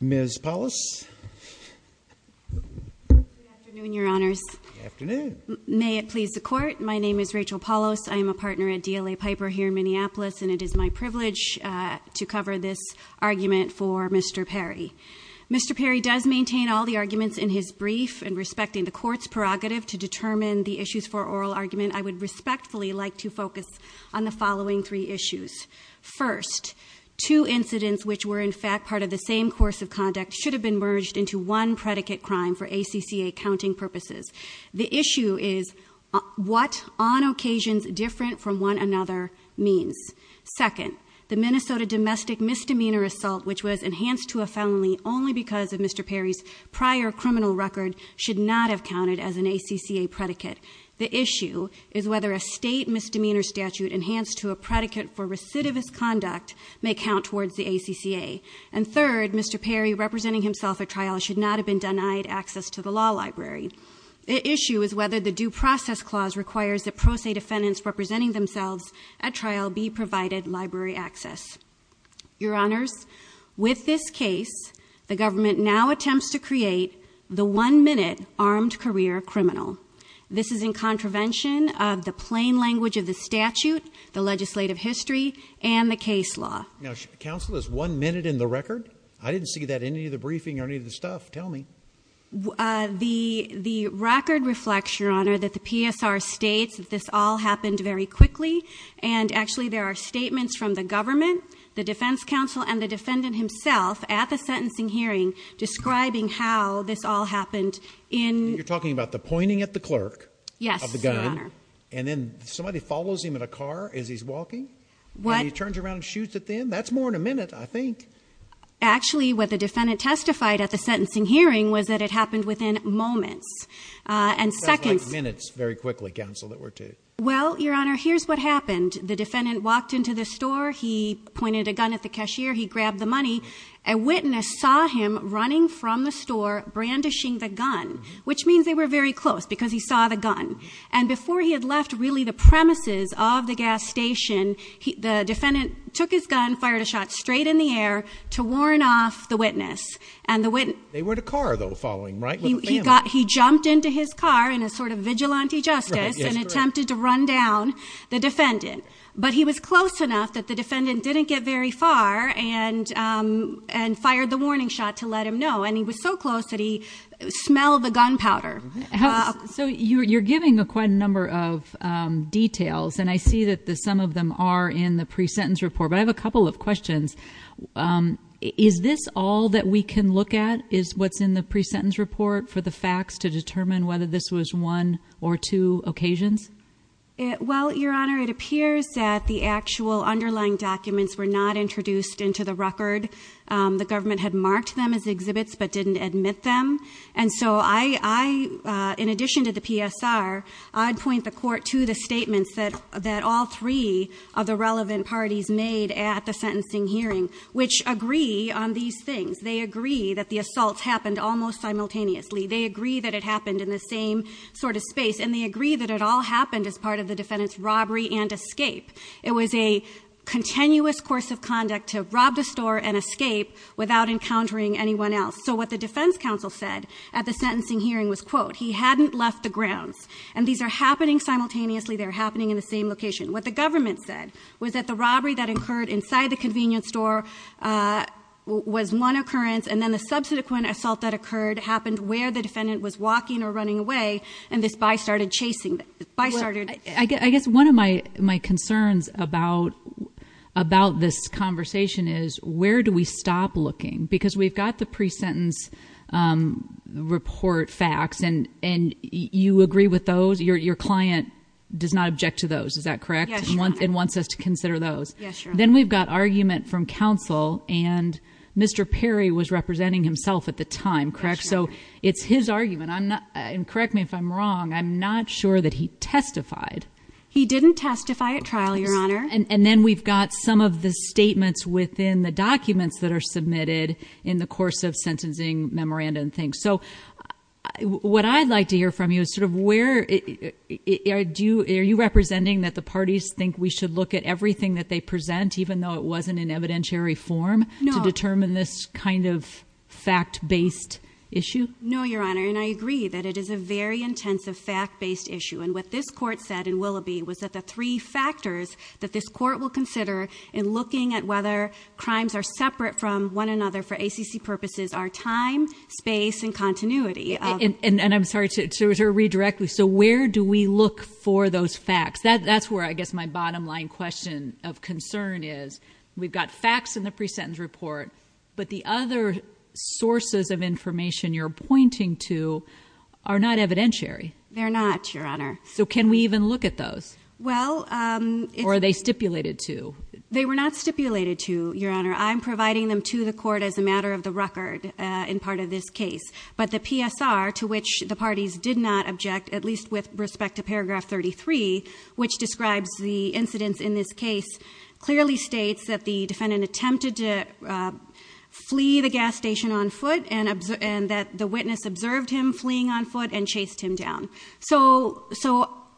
Ms. Paulos. May it please the court. My name is Rachel Paulos. I am a partner at DLA Piper here in Minneapolis and it is my privilege to cover this argument for Mr. Perry. Mr. Perry does maintain all the arguments in his brief and respecting the court's prerogative to determine the issues for oral argument. I would respectfully like to focus on the following three issues. First, two have been merged into one predicate crime for ACCA counting purposes. The issue is what on occasions different from one another means. Second, the Minnesota domestic misdemeanor assault which was enhanced to a felony only because of Mr. Perry's prior criminal record should not have counted as an ACCA predicate. The issue is whether a state misdemeanor statute enhanced to a Mr. Perry representing himself at trial should not have been denied access to the law library. The issue is whether the due process clause requires the pro se defendants representing themselves at trial be provided library access. Your honors, with this case the government now attempts to create the one-minute armed career criminal. This is in contravention of the plain language of the statute, the legislative history, and the case law. Now counsel is one minute in the record? I didn't see that in any of the briefing or any of the stuff. Tell me. The record reflects, your honor, that the PSR states that this all happened very quickly and actually there are statements from the government, the defense counsel, and the defendant himself at the sentencing hearing describing how this all happened in... You're talking about the pointing at the clerk? Yes. And then somebody follows him in a car as he's walking? What? He turns around and shoots at them? That's more than a minute, I think. Actually what the defendant testified at the sentencing hearing was that it happened within moments and seconds. That sounds like minutes very quickly, counsel, that were two. Well, your honor, here's what happened. The defendant walked into the store, he pointed a gun at the cashier, he grabbed the money. A witness saw him running from the store brandishing the gun, which means they were very close because he saw the gun. And before he had left really the premises of the gas station, the defendant took his gun, fired a shot straight in the air to warn off the witness. They were in a car, though, following him, right? He jumped into his car in a sort of vigilante justice and attempted to run down the defendant. But he was close enough that the defendant didn't get very far and fired the warning shot to let him know. And he was so close that he smelled the gunpowder. So you're giving quite a number of details and I see that some of them are in the pre-sentence report. But I have a couple of questions. Is this all that we can look at is what's in the pre-sentence report for the facts to determine whether this was one or two occasions? Well, your honor, it appears that the actual underlying documents were not introduced into the record. The government had marked them as exhibits but didn't admit them. And so I, in addition to the PSR, I'd point the court to the statements that all three of the relevant parties made at the sentencing hearing, which agree on these things. They agree that the assaults happened almost simultaneously. They agree that it happened in the same sort of space. And they agree that it all happened simultaneously. It happened as part of the defendant's robbery and escape. It was a continuous course of conduct to rob the store and escape without encountering anyone else. So what the defense counsel said at the sentencing hearing was, quote, he hadn't left the grounds. And these are happening simultaneously, they're happening in the same location. What the government said was that the robbery that occurred inside the convenience store was one occurrence. And then the subsequent assault that occurred happened where the defendant was walking or running away, and this buy started chasing, the buy started- I guess one of my concerns about this conversation is, where do we stop looking? Because we've got the pre-sentence report facts, and you agree with those? Your client does not object to those, is that correct? Yes, your honor. Yes, your honor. Then we've got argument from counsel, and Mr. Perry was representing himself at the time, correct? So it's his argument, and correct me if I'm wrong, I'm not sure that he testified. He didn't testify at trial, your honor. And then we've got some of the statements within the documents that are submitted in the course of sentencing memoranda and things. So what I'd like to hear from you is sort of where, are you representing that the parties think we should look at everything that they present, even though it wasn't in evidentiary form, to determine this kind of fact-based issue? No, your honor, and I agree that it is a very intensive fact-based issue. And what this court said in Willoughby was that the three factors that this court will consider in looking at whether crimes are separate from one another for ACC purposes are time, space, and continuity. And I'm sorry, to read directly, so where do we look for those facts? That's where I guess my bottom line question of concern is. We've got facts in the pre-sentence report, but the other sources of information you're pointing to are not evidentiary. They're not, your honor. So can we even look at those? Well- Or are they stipulated to? They were not stipulated to, your honor. I'm providing them to the court as a matter of the record in part of this case. But the PSR, to which the parties did not object, at least with respect to paragraph 33, which describes the incidents in this case, clearly states that the defendant attempted to flee the gas station on foot and that the witness observed him fleeing on foot and chased him down. So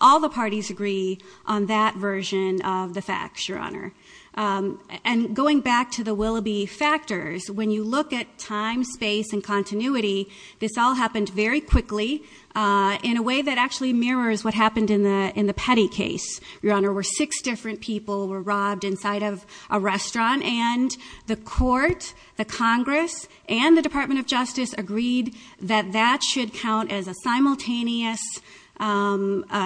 all the parties agree on that version of the facts, your honor. And going back to the Willoughby factors, when you look at time, space, and continuity, this all happened very quickly in a way that actually mirrors what happened in the Petty case, your honor. Where six different people were robbed inside of a restaurant, and the court, the Congress, and the Department of Justice agreed that that should count as a simultaneous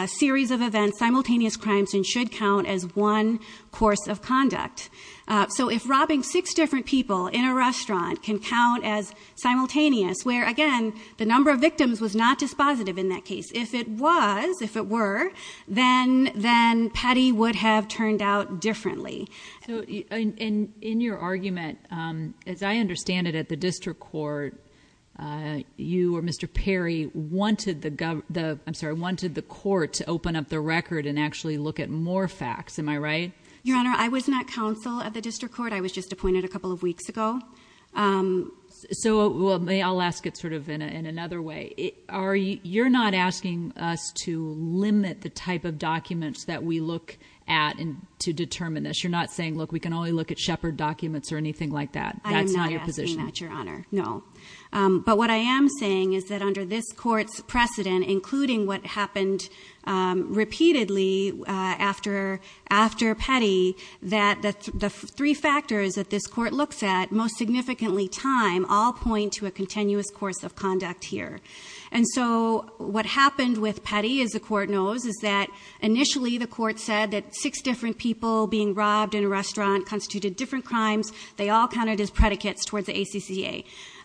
series of events, simultaneous crimes, and should count as one course of conduct. So if robbing six different people in a restaurant can count as simultaneous, where again, the number of victims was not dispositive in that case. If it was, if it were, then Petty would have turned out differently. So in your argument, as I understand it at the district court, you or Mr. Perry wanted the court to open up the record and actually look at more facts, am I right? Your honor, I was not counsel of the district court. I was just appointed a couple of weeks ago. So, I'll ask it sort of in another way. You're not asking us to limit the type of documents that we look at to determine this. You're not saying, look, we can only look at Shepard documents or anything like that. That's not your position. I'm not saying that, your honor, no. But what I am saying is that under this court's precedent, including what happened repeatedly after Petty, that the three factors that this court looks at, most significantly time, all point to a continuous course of conduct here. And so, what happened with Petty, as the court knows, is that initially, the court said that six different people being robbed in a restaurant constituted different crimes. They all counted as predicates towards the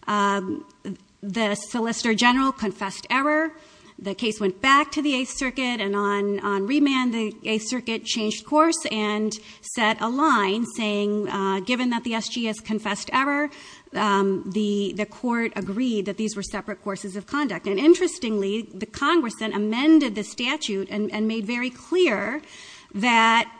ACCA. The solicitor general confessed error. The case went back to the Eighth Circuit, and on remand, the Eighth Circuit changed course and set a line saying, given that the SGS confessed error, the court agreed that these were separate courses of conduct. And interestingly, the Congress then amended the statute and made very clear that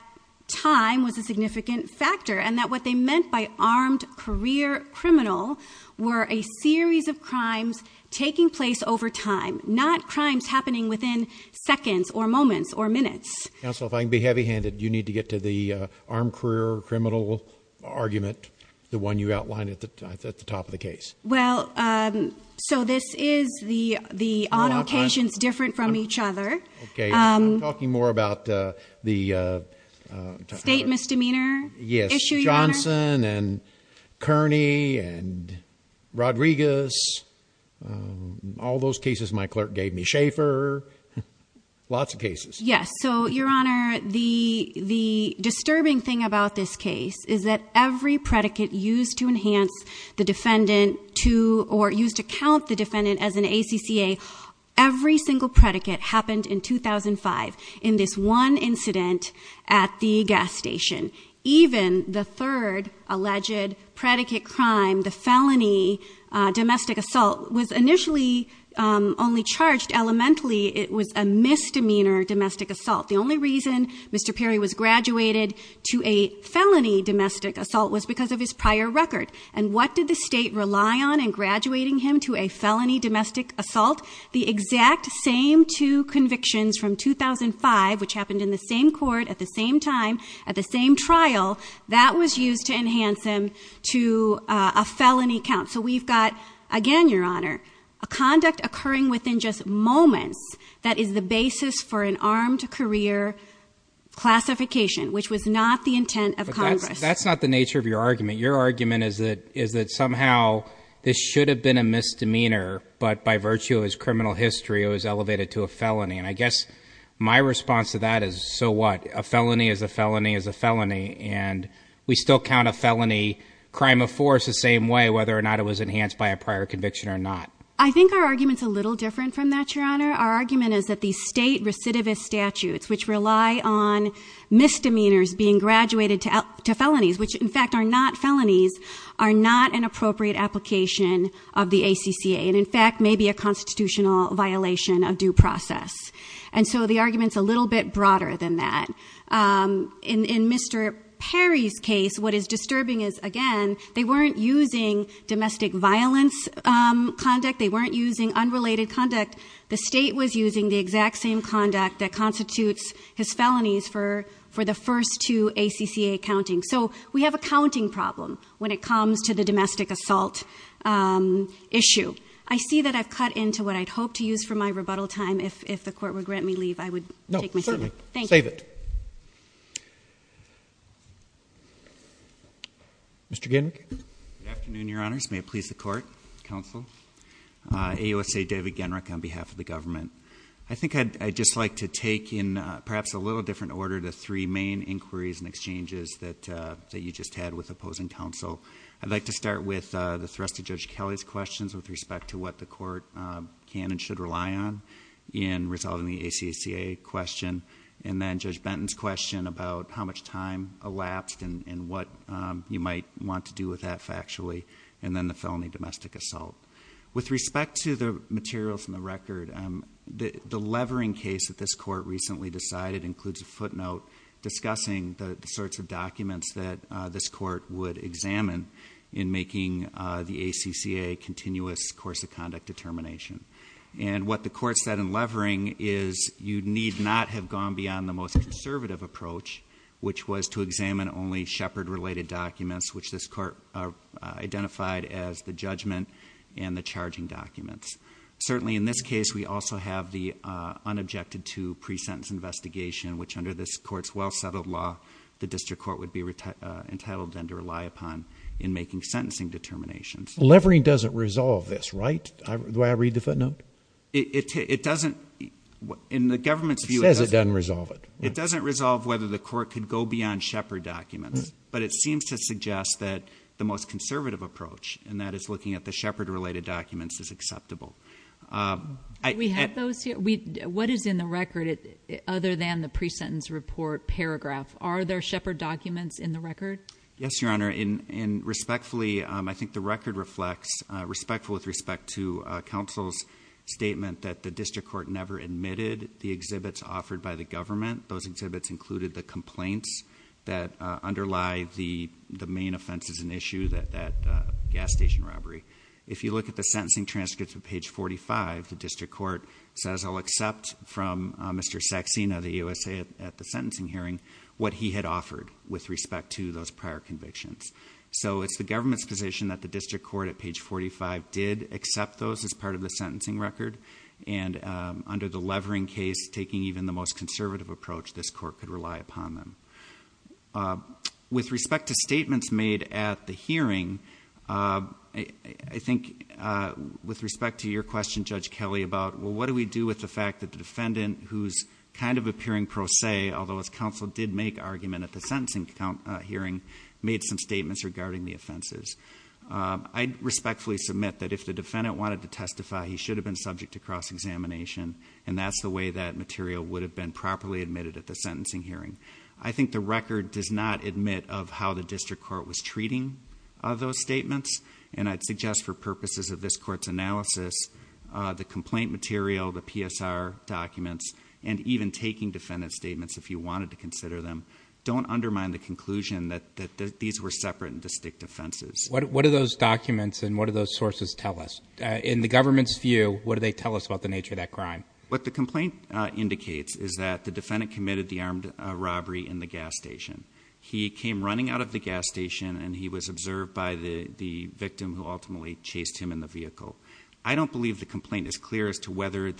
time was a significant factor. And that what they meant by armed career criminal were a series of crimes taking place over time, not crimes happening within seconds or moments or minutes. Counsel, if I can be heavy handed, you need to get to the armed career criminal argument, the one you outlined at the top of the case. Well, so this is the on occasions different from each other. Okay, I'm talking more about the- State misdemeanor issue, Your Honor. Yes, Johnson and Kearney and Rodriguez. All those cases my clerk gave me. Schaefer, lots of cases. Yes, so Your Honor, the disturbing thing about this case is that every predicate used to enhance the defendant to, or used to count the defendant as an ACCA. Every single predicate happened in 2005 in this one incident at the gas station. Even the third alleged predicate crime, the felony domestic assault, was initially only charged elementally, it was a misdemeanor domestic assault. The only reason Mr. Perry was graduated to a felony domestic assault was because of his prior record. And what did the state rely on in graduating him to a felony domestic assault? The exact same two convictions from 2005, which happened in the same court at the same time, at the same trial, that was used to enhance him to a felony count. So we've got, again, Your Honor, a conduct occurring within just moments that is the basis for an armed career classification, which was not the intent of Congress. That's not the nature of your argument. Your argument is that somehow this should have been a misdemeanor, but by virtue of his criminal history, it was elevated to a felony. And I guess my response to that is, so what? A felony is a felony is a felony. And we still count a felony crime of force the same way, whether or not it was enhanced by a prior conviction or not. I think our argument's a little different from that, Your Honor. Our argument is that the state recidivist statutes, which rely on misdemeanors being graduated to felonies, which in fact are not felonies, are not an appropriate application of the ACCA. And in fact, may be a constitutional violation of due process. And so the argument's a little bit broader than that. In Mr. Perry's case, what is disturbing is, again, they weren't using domestic violence conduct. They weren't using unrelated conduct. The state was using the exact same conduct that constitutes his felonies for the first two ACCA countings. So we have a counting problem when it comes to the domestic assault issue. I see that I've cut into what I'd hope to use for my rebuttal time. If the court would grant me leave, I would take my leave. Thank you. No, certainly. Save it. Mr. Genrick. Good afternoon, Your Honors. May it please the court, counsel. AUSA David Genrick on behalf of the government. I think I'd just like to take in perhaps a little different order the three main inquiries and exchanges that you just had with opposing counsel. I'd like to start with the thrust of Judge Kelly's questions with respect to what the court can and should rely on in resolving the ACCA question. And then Judge Benton's question about how much time elapsed and what you might want to do with that factually, and then the felony domestic assault. With respect to the material from the record, the levering case that this court recently decided includes a footnote discussing the sorts of documents that this court would examine in making the ACCA continuous course of conduct determination. And what the court said in levering is you need not have gone beyond the most conservative approach, which was to examine only shepherd related documents, which this court identified as the judgment and the charging documents. Certainly in this case, we also have the unobjected to pre-sentence investigation, which under this court's well settled law, the district court would be entitled then to rely upon in making sentencing determinations. Levering doesn't resolve this, right? Do I read the footnote? It doesn't, in the government's view- It says it doesn't resolve it. It doesn't resolve whether the court could go beyond shepherd documents. But it seems to suggest that the most conservative approach, and that is looking at the shepherd related documents, is acceptable. We have those here, what is in the record other than the pre-sentence report paragraph? Are there shepherd documents in the record? Yes, your honor, and respectfully, I think the record reflects, respectful with respect to counsel's statement that the district court never admitted the exhibits offered by the government. Those exhibits included the complaints that underlie the main offenses and issue that gas station robbery. If you look at the sentencing transcripts of page 45, the district court says I'll accept from Mr. Saxena of the USA at the sentencing hearing what he had offered with respect to those prior convictions. So it's the government's position that the district court at page 45 did accept those as part of the sentencing record. And under the levering case, taking even the most conservative approach, this court could rely upon them. With respect to statements made at the hearing, I think with respect to your question, Judge Kelly, about what do we do with the fact that the defendant who's kind of appearing pro se, although his counsel did make argument at the sentencing hearing, made some statements regarding the offenses. I respectfully submit that if the defendant wanted to testify, he should have been subject to cross-examination. And that's the way that material would have been properly admitted at the sentencing hearing. I think the record does not admit of how the district court was treating those statements. And I'd suggest for purposes of this court's analysis, the complaint material, the PSR documents, and even taking defendant's statements if you wanted to consider them, don't undermine the conclusion that these were separate and distinct offenses. What do those documents and what do those sources tell us? In the government's view, what do they tell us about the nature of that crime? What the complaint indicates is that the defendant committed the armed robbery in the gas station. He came running out of the gas station and he was observed by the victim who ultimately chased him in the vehicle. I don't believe the complaint is clear as to whether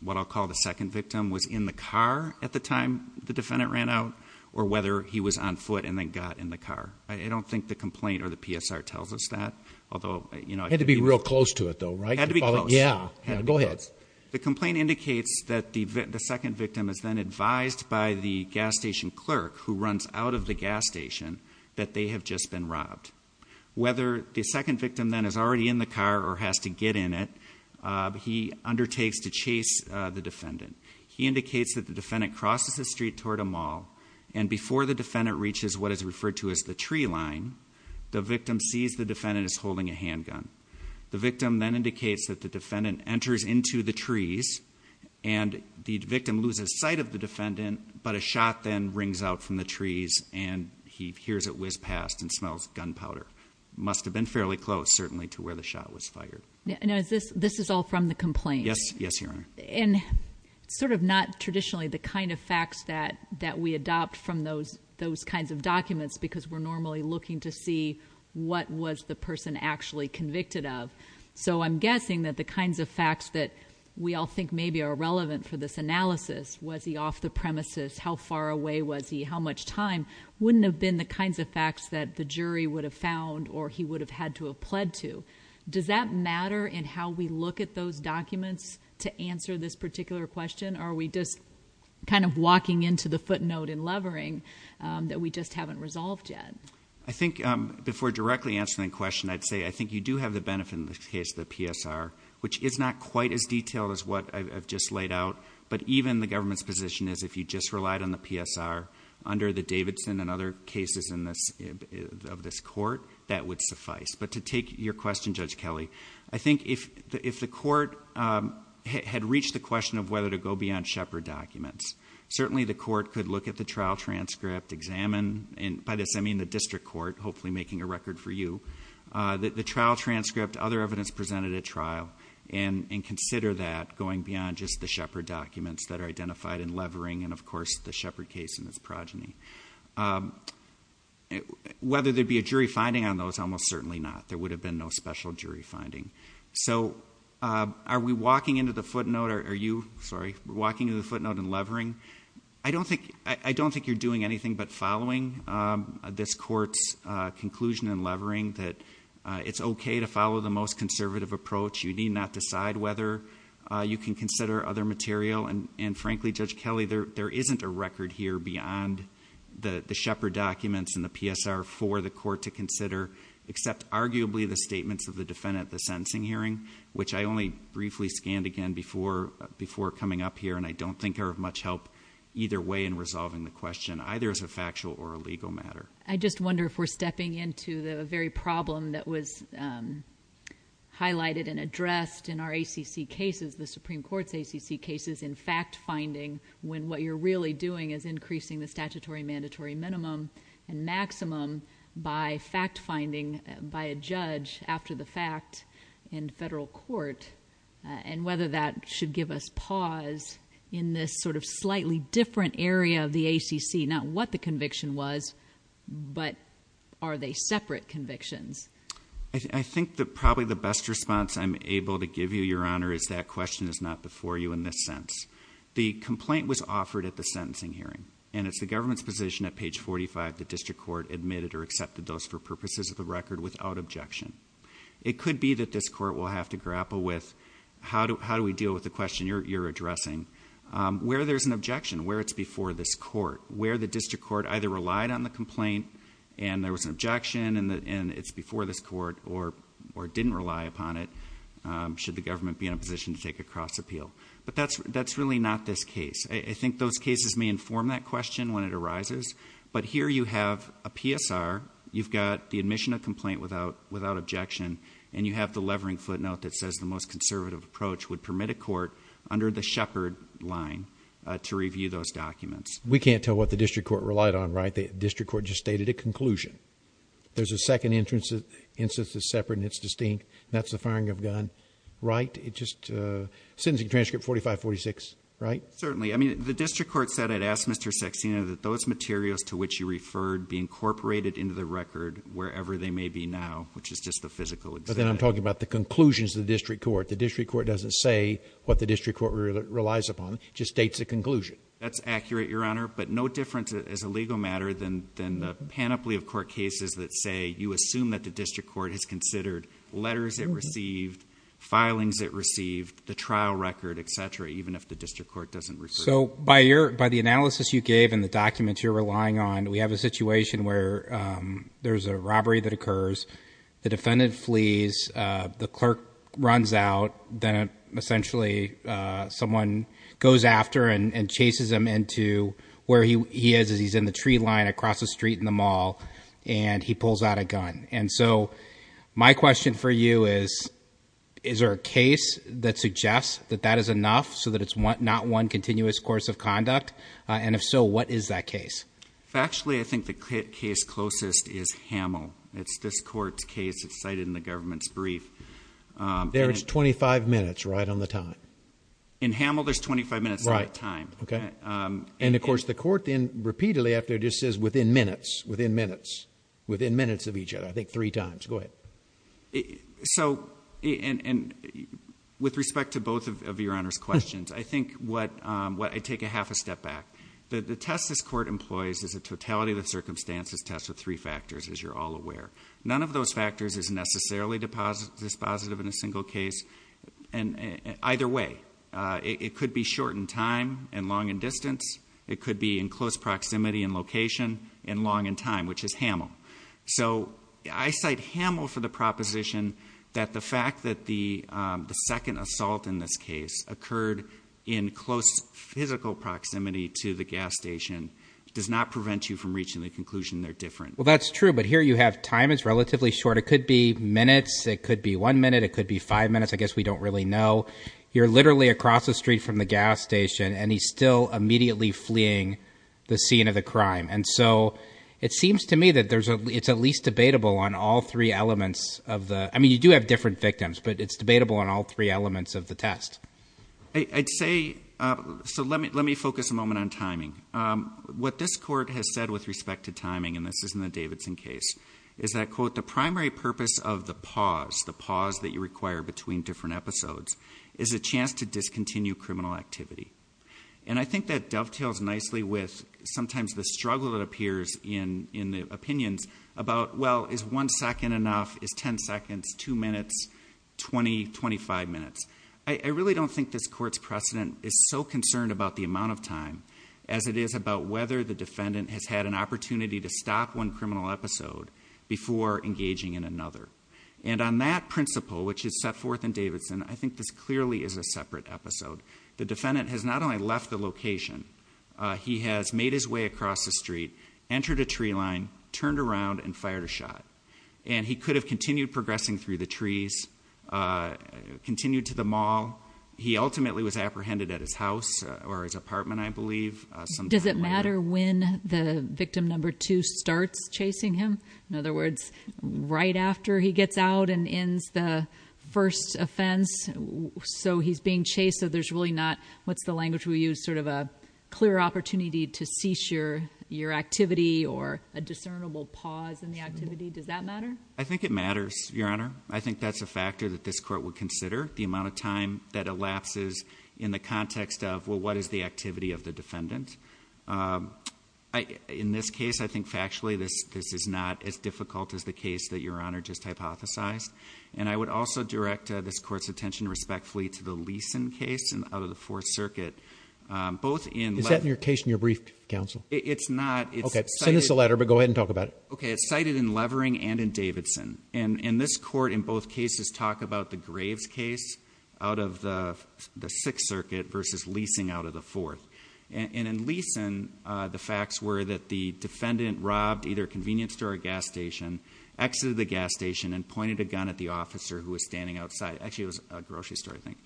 what I'll call the second victim was in the car at the time the defendant ran out. Or whether he was on foot and then got in the car. I don't think the complaint or the PSR tells us that. Although- Had to be real close to it though, right? Had to be close. Yeah, go ahead. The complaint indicates that the second victim is then advised by the gas station clerk who runs out of the gas station that they have just been robbed. Whether the second victim then is already in the car or has to get in it, he undertakes to chase the defendant. He indicates that the defendant crosses the street toward a mall. And before the defendant reaches what is referred to as the tree line, the victim sees the defendant is holding a handgun. The victim then indicates that the defendant enters into the trees. And the victim loses sight of the defendant, but a shot then rings out from the trees. And he hears it whiz past and smells gunpowder. Must have been fairly close, certainly, to where the shot was fired. And is this, this is all from the complaint? Yes, yes, your honor. And sort of not traditionally the kind of facts that we adopt from those kinds of documents. Because we're normally looking to see what was the person actually convicted of. So I'm guessing that the kinds of facts that we all think maybe are relevant for this analysis. Was he off the premises? How far away was he? And how much time? Wouldn't have been the kinds of facts that the jury would have found or he would have had to have pled to. Does that matter in how we look at those documents to answer this particular question? Or are we just kind of walking into the footnote and levering that we just haven't resolved yet? I think before directly answering the question, I'd say I think you do have the benefit in the case of the PSR. Which is not quite as detailed as what I've just laid out. But even the government's position is if you just relied on the PSR under the Davidson and other cases of this court, that would suffice. But to take your question, Judge Kelly, I think if the court had reached the question of whether to go beyond Shepard documents. Certainly the court could look at the trial transcript, examine, and by this I mean the district court, hopefully making a record for you. The trial transcript, other evidence presented at trial, and consider that going beyond just the Shepard documents that are identified in Levering and, of course, the Shepard case and its progeny. Whether there'd be a jury finding on those, almost certainly not. There would have been no special jury finding. So are we walking into the footnote, are you, sorry, walking into the footnote in Levering? I don't think you're doing anything but following this court's conclusion in Levering that it's okay to follow the most conservative approach, you need not decide whether you can consider other material. And frankly, Judge Kelly, there isn't a record here beyond the Shepard documents and the PSR for the court to consider except arguably the statements of the defendant at the sentencing hearing. Which I only briefly scanned again before coming up here and I don't think are of much help either way in resolving the question, either as a factual or a legal matter. I just wonder if we're stepping into the very problem that was highlighted and addressed in our ACC cases, the Supreme Court's ACC cases, in fact finding when what you're really doing is increasing the statutory mandatory minimum and the federal court, and whether that should give us pause in this sort of slightly different area of the ACC. Not what the conviction was, but are they separate convictions? I think that probably the best response I'm able to give you, Your Honor, is that question is not before you in this sense. The complaint was offered at the sentencing hearing. And it's the government's position at page 45 that district court admitted or accepted those for purposes of the record without objection. It could be that this court will have to grapple with, how do we deal with the question you're addressing? Where there's an objection, where it's before this court, where the district court either relied on the complaint and there was an objection and it's before this court or didn't rely upon it. Should the government be in a position to take a cross appeal? But that's really not this case. But here you have a PSR, you've got the admission of complaint without objection, and you have the levering footnote that says the most conservative approach would permit a court under the Shepherd line to review those documents. We can't tell what the district court relied on, right? The district court just stated a conclusion. There's a second instance that's separate and it's distinct, and that's the firing of a gun, right? It just, sentencing transcript 4546, right? Certainly, I mean, the district court said, I'd ask Mr. Saxena, that those materials to which you referred be incorporated into the record wherever they may be now, which is just the physical- But then I'm talking about the conclusions of the district court. The district court doesn't say what the district court relies upon, it just states a conclusion. That's accurate, your honor, but no different as a legal matter than the panoply of court cases that say, you assume that the district court has considered letters it received, filings it received, the trial record, etc., even if the district court doesn't refer to it. So, by the analysis you gave and the documents you're relying on, we have a situation where there's a robbery that occurs. The defendant flees, the clerk runs out, then essentially, someone goes after and chases him into where he is, he's in the tree line across the street in the mall, and he pulls out a gun. And so, my question for you is, is there a case that suggests that that is enough, so that it's not one continuous course of conduct, and if so, what is that case? Factually, I think the case closest is Hamel. It's this court's case, it's cited in the government's brief. There's 25 minutes right on the time. In Hamel, there's 25 minutes on the time. Okay. And of course, the court then repeatedly after just says within minutes, within minutes. Within minutes of each other, I think three times. Go ahead. So, and with respect to both of your Honor's questions, I think I take a half a step back. The test this court employs is a totality of the circumstances test with three factors, as you're all aware. None of those factors is necessarily dispositive in a single case. And either way, it could be short in time and long in distance. It could be in close proximity and location and long in time, which is Hamel. So, I cite Hamel for the proposition that the fact that the second assault in this case occurred in close physical proximity to the gas station does not prevent you from reaching the conclusion they're different. Well, that's true, but here you have time is relatively short. It could be minutes. It could be one minute. It could be five minutes. I guess we don't really know. You're literally across the street from the gas station, and he's still immediately fleeing the scene of the crime. And so, it seems to me that it's at least debatable on all three elements of the, I mean, you do have different victims, but it's debatable on all three elements of the test. I'd say, so let me focus a moment on timing. What this court has said with respect to timing, and this is in the Davidson case, is that, quote, the primary purpose of the pause, the pause that you require between different episodes, is a chance to discontinue criminal activity. And I think that dovetails nicely with sometimes the struggle that appears in the opinions about, well, is one second enough, is ten seconds, two minutes, 20, 25 minutes? I really don't think this court's precedent is so concerned about the amount of time, as it is about whether the defendant has had an opportunity to stop one criminal episode before engaging in another. And on that principle, which is set forth in Davidson, I think this clearly is a separate episode. The defendant has not only left the location, he has made his way across the street, entered a tree line, turned around, and fired a shot. And he could have continued progressing through the trees, continued to the mall. He ultimately was apprehended at his house, or his apartment, I believe, sometime later. Does it matter when the victim number two starts chasing him? In other words, right after he gets out and ends the first offense. So he's being chased, so there's really not, what's the language we use? Sort of a clear opportunity to cease your activity, or a discernible pause in the activity. I think it matters, Your Honor. I think that's a factor that this court would consider, the amount of time that elapses in the context of, well, what is the activity of the defendant? In this case, I think factually, this is not as difficult as the case that Your Honor just hypothesized. And I would also direct this court's attention respectfully to the Leeson case out of the Fourth Circuit, both in- Is that in your case in your brief, counsel? It's not. Okay, send us a letter, but go ahead and talk about it. Okay, it's cited in Levering and in Davidson. And this court in both cases talk about the Graves case out of the Sixth Circuit versus leasing out of the Fourth. And in Leeson, the facts were that the defendant robbed either a convenience store or a gas station, exited the gas station and pointed a gun at the officer who was standing outside. Actually, it was a grocery store, I think,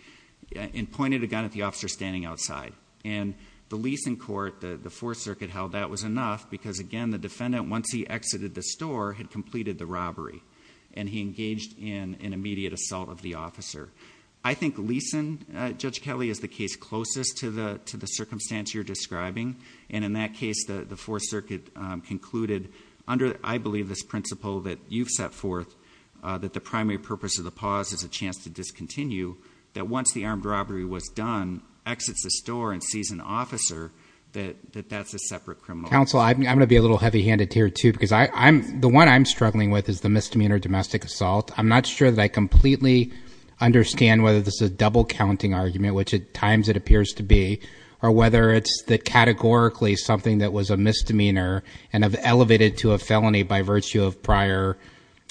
and pointed a gun at the officer standing outside. And the Leeson court, the Fourth Circuit held that was enough, because again, the defendant, once he exited the store, had completed the robbery. And he engaged in an immediate assault of the officer. I think Leeson, Judge Kelly, is the case closest to the circumstance you're describing. And in that case, the Fourth Circuit concluded under, I believe, this principle that you've set forth, that the primary purpose of the pause is a chance to discontinue, that once the armed robbery was done, exits the store and sees an officer, that that's a separate criminal offense. Council, I'm going to be a little heavy handed here, too, because the one I'm struggling with is the misdemeanor domestic assault. I'm not sure that I completely understand whether this is a double counting argument, which at times it appears to be. Or whether it's categorically something that was a misdemeanor and have elevated to a felony by virtue of prior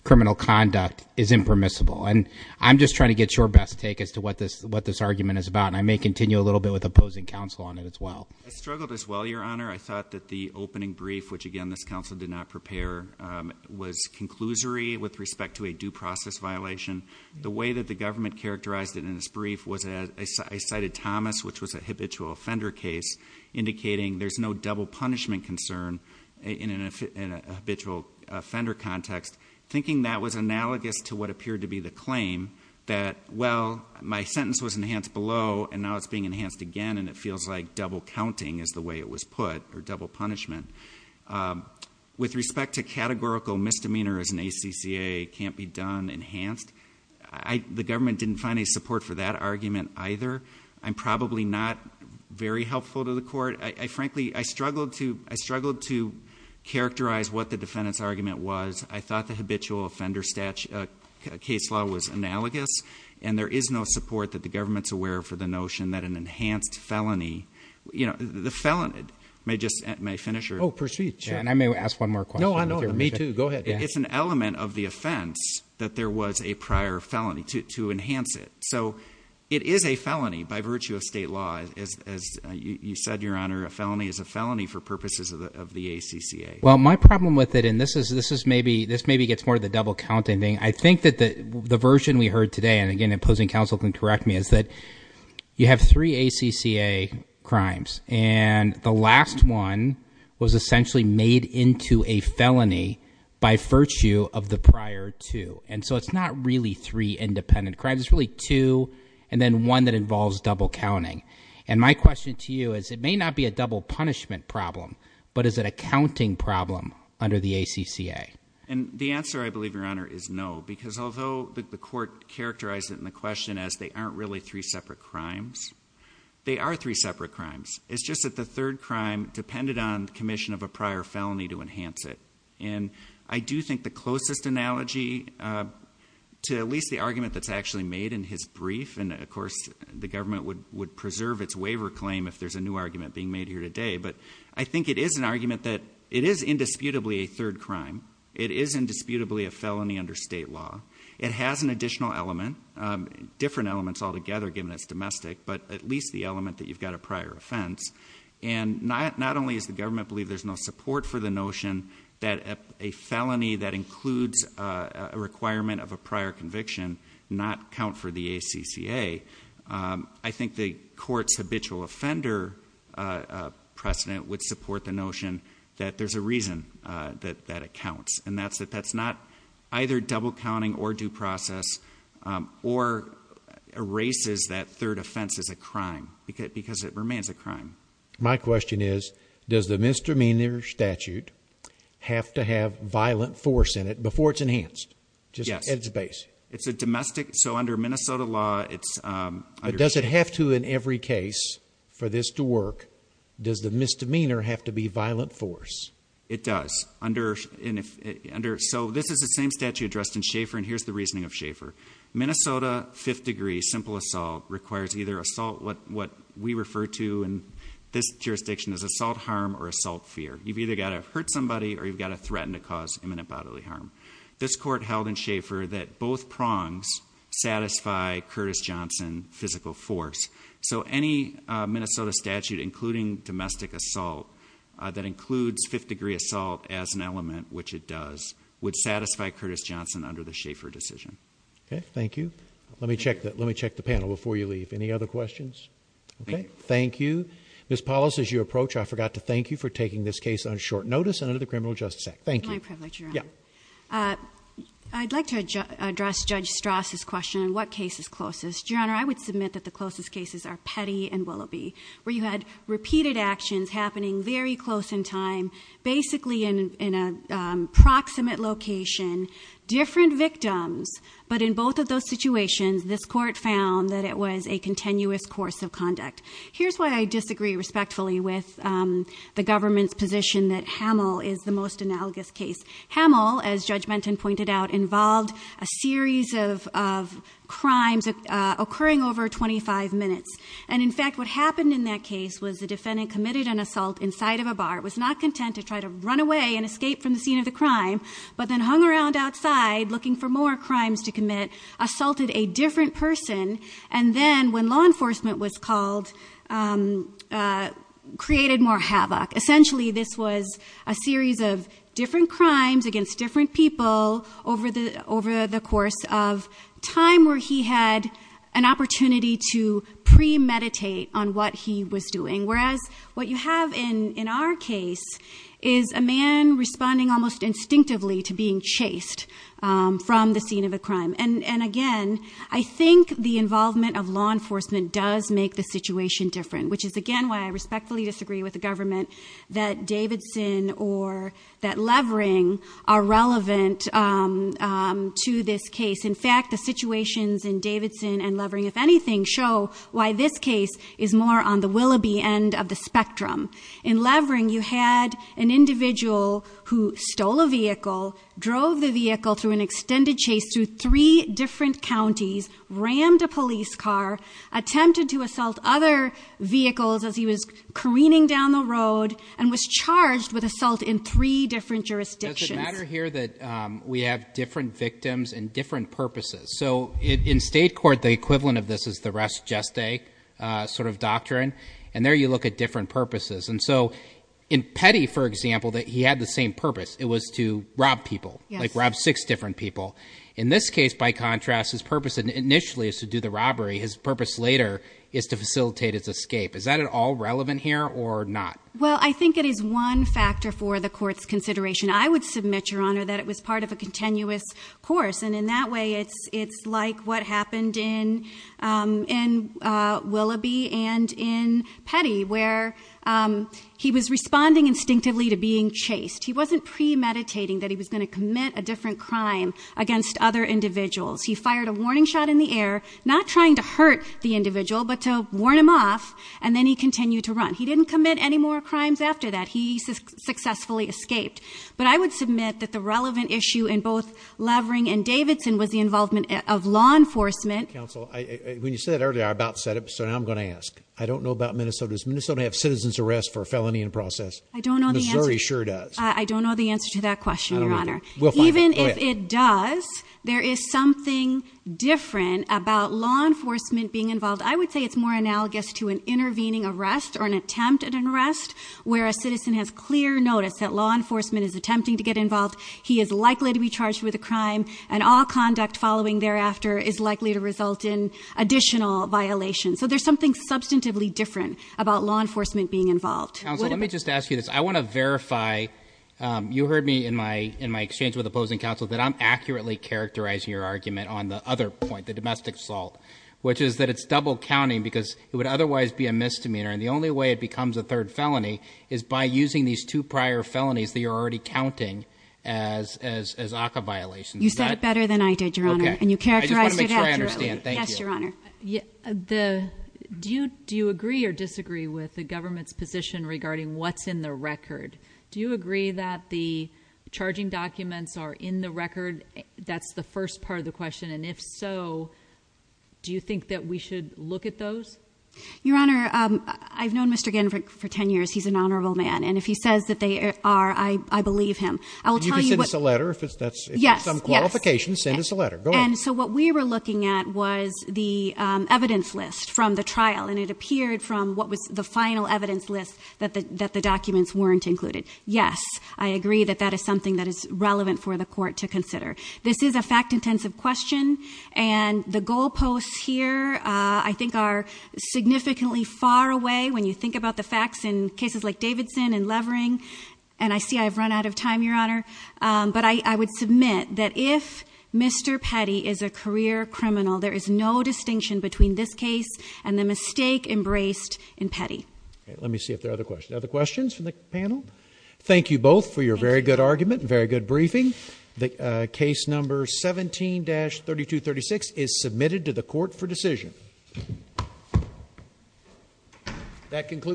criminal conduct is impermissible. And I'm just trying to get your best take as to what this argument is about. And I may continue a little bit with opposing counsel on it as well. I struggled as well, your honor. I thought that the opening brief, which again, this council did not prepare, was conclusory with respect to a due process violation. The way that the government characterized it in this brief was I cited Thomas, which was a habitual offender case, indicating there's no double punishment concern in a habitual offender context. Thinking that was analogous to what appeared to be the claim that, well, my sentence was enhanced below, and now it's being enhanced again. And it feels like double counting is the way it was put, or double punishment. With respect to categorical misdemeanor as an ACCA, can't be done, enhanced. The government didn't find any support for that argument either. I'm probably not very helpful to the court. I frankly, I struggled to characterize what the defendant's argument was. I thought the habitual offender case law was analogous. And there is no support that the government's aware for the notion that an enhanced felony, the felon may just, may I finish? Proceed, sure. And I may ask one more question. No, I know. Me too, go ahead. It's an element of the offense that there was a prior felony to enhance it. So it is a felony by virtue of state law, as you said, your honor, a felony is a felony for purposes of the ACCA. Well, my problem with it, and this maybe gets more of the double counting thing. I think that the version we heard today, and again, opposing counsel can correct me, is that you have three ACCA crimes. And the last one was essentially made into a felony by virtue of the prior two. And so it's not really three independent crimes, it's really two and then one that involves double counting. And my question to you is, it may not be a double punishment problem, but is it a counting problem under the ACCA? And the answer, I believe, your honor, is no. Because although the court characterized it in the question as they aren't really three separate crimes, they are three separate crimes. It's just that the third crime depended on commission of a prior felony to enhance it. And I do think the closest analogy to at least the argument that's actually made in his brief, and of course the government would preserve its waiver claim if there's a new argument being made here today. But I think it is an argument that it is indisputably a third crime. It is indisputably a felony under state law. It has an additional element, different elements altogether given it's domestic, but at least the element that you've got a prior offense. And not only is the government believe there's no support for the notion that a felony that includes a requirement of a prior conviction not count for the ACCA. I think the court's habitual offender precedent would support the notion that there's a reason that it counts. And that's not either double counting or due process or erases that third offense as a crime, because it remains a crime. My question is, does the misdemeanor statute have to have violent force in it before it's enhanced? Just at its base. It's a domestic, so under Minnesota law, it's- But does it have to in every case for this to work? Does the misdemeanor have to be violent force? It does. So this is the same statute addressed in Schaefer, and here's the reasoning of Schaefer. Minnesota fifth degree simple assault requires either assault, what we refer to in this jurisdiction as assault harm or assault fear. You've either got to hurt somebody or you've got to threaten to cause imminent bodily harm. This court held in Schaefer that both prongs satisfy Curtis Johnson physical force. So any Minnesota statute including domestic assault that includes fifth degree assault as an element, which it does, would satisfy Curtis Johnson under the Schaefer decision. Okay, thank you. Let me check the panel before you leave. Any other questions? Okay, thank you. Ms. Paulus, as you approach, I forgot to thank you for taking this case on short notice and under the Criminal Justice Act. Thank you. My privilege, Your Honor. I'd like to address Judge Strauss' question, what case is closest? Your Honor, I would submit that the closest cases are Petty and Willoughby, where you had repeated actions happening very close in time, basically in a proximate location. Different victims, but in both of those situations, this court found that it was a continuous course of conduct. Here's why I disagree respectfully with the government's position that Hamill is the most analogous case. Hamill, as Judge Menton pointed out, involved a series of crimes occurring over 25 minutes. And in fact, what happened in that case was the defendant committed an assault inside of a bar, was not content to try to run away and escape from the scene of the crime, but then hung around outside looking for more crimes to commit. Assaulted a different person, and then when law enforcement was called, created more havoc. Essentially, this was a series of different crimes against different people over the course of time where he had an opportunity to premeditate on what he was doing. Whereas, what you have in our case is a man responding almost instinctively to being chased from the scene of a crime. And again, I think the involvement of law enforcement does make the situation different, which is again why I respectfully disagree with the government that Davidson or that Levering are relevant to this case. In fact, the situations in Davidson and Levering, if anything, show why this case is more on the Willoughby end of the spectrum. In Levering, you had an individual who stole a vehicle, drove the vehicle through an extended chase through three different counties, rammed a police car, attempted to assault other vehicles as he was careening down the road, and was charged with assault in three different jurisdictions. It's a matter here that we have different victims and different purposes. So in state court, the equivalent of this is the rest just a sort of doctrine. And there you look at different purposes. And so in Petty, for example, that he had the same purpose. It was to rob people, like rob six different people. In this case, by contrast, his purpose initially is to do the robbery. His purpose later is to facilitate his escape. Is that at all relevant here or not? Well, I think it is one factor for the court's consideration. I would submit, Your Honor, that it was part of a continuous course. And in that way, it's like what happened in Willoughby and in Petty, where he was responding instinctively to being chased. He wasn't premeditating that he was going to commit a different crime against other individuals. He fired a warning shot in the air, not trying to hurt the individual, but to warn him off. And then he continued to run. He didn't commit any more crimes after that. He successfully escaped. But I would submit that the relevant issue in both Levering and Davidson was the involvement of law enforcement. Council, when you said earlier, I about said it, so now I'm going to ask. I don't know about Minnesota. Does Minnesota have citizen's arrest for a felony in process? I don't know the answer. Missouri sure does. I don't know the answer to that question, Your Honor. Even if it does, there is something different about law enforcement being involved. I would say it's more analogous to an intervening arrest or an attempt at an arrest, where a citizen has clear notice that law enforcement is attempting to get involved. He is likely to be charged with a crime, and all conduct following thereafter is likely to result in additional violations. So there's something substantively different about law enforcement being involved. Council, let me just ask you this. I want to verify, you heard me in my exchange with opposing counsel, that I'm accurately characterizing your argument on the other point, the domestic assault. Which is that it's double counting, because it would otherwise be a misdemeanor. And the only way it becomes a third felony is by using these two prior felonies that you're already counting as ACA violations. You said it better than I did, Your Honor. Okay. And you characterized it accurately. I just want to make sure I understand. Thank you. Yes, Your Honor. Do you agree or disagree with the government's position regarding what's in the record? Do you agree that the charging documents are in the record? That's the first part of the question. And if so, do you think that we should look at those? Your Honor, I've known Mr. Ginn for ten years. He's an honorable man. And if he says that they are, I believe him. I will tell you what- You can send us a letter if that's some qualification. Send us a letter. Go ahead. And so what we were looking at was the evidence list from the trial. And it appeared from what was the final evidence list that the documents weren't included. Yes, I agree that that is something that is relevant for the court to consider. This is a fact intensive question. And the goal posts here I think are significantly far away when you think about the facts in cases like Davidson and Levering. And I see I've run out of time, Your Honor. But I would submit that if Mr. Petty is a career criminal, there is no distinction between this case and the mistake embraced in Petty. Let me see if there are other questions. Other questions from the panel? Thank you both for your very good argument and very good briefing. The case number 17-3236 is submitted to the court for decision. That concludes-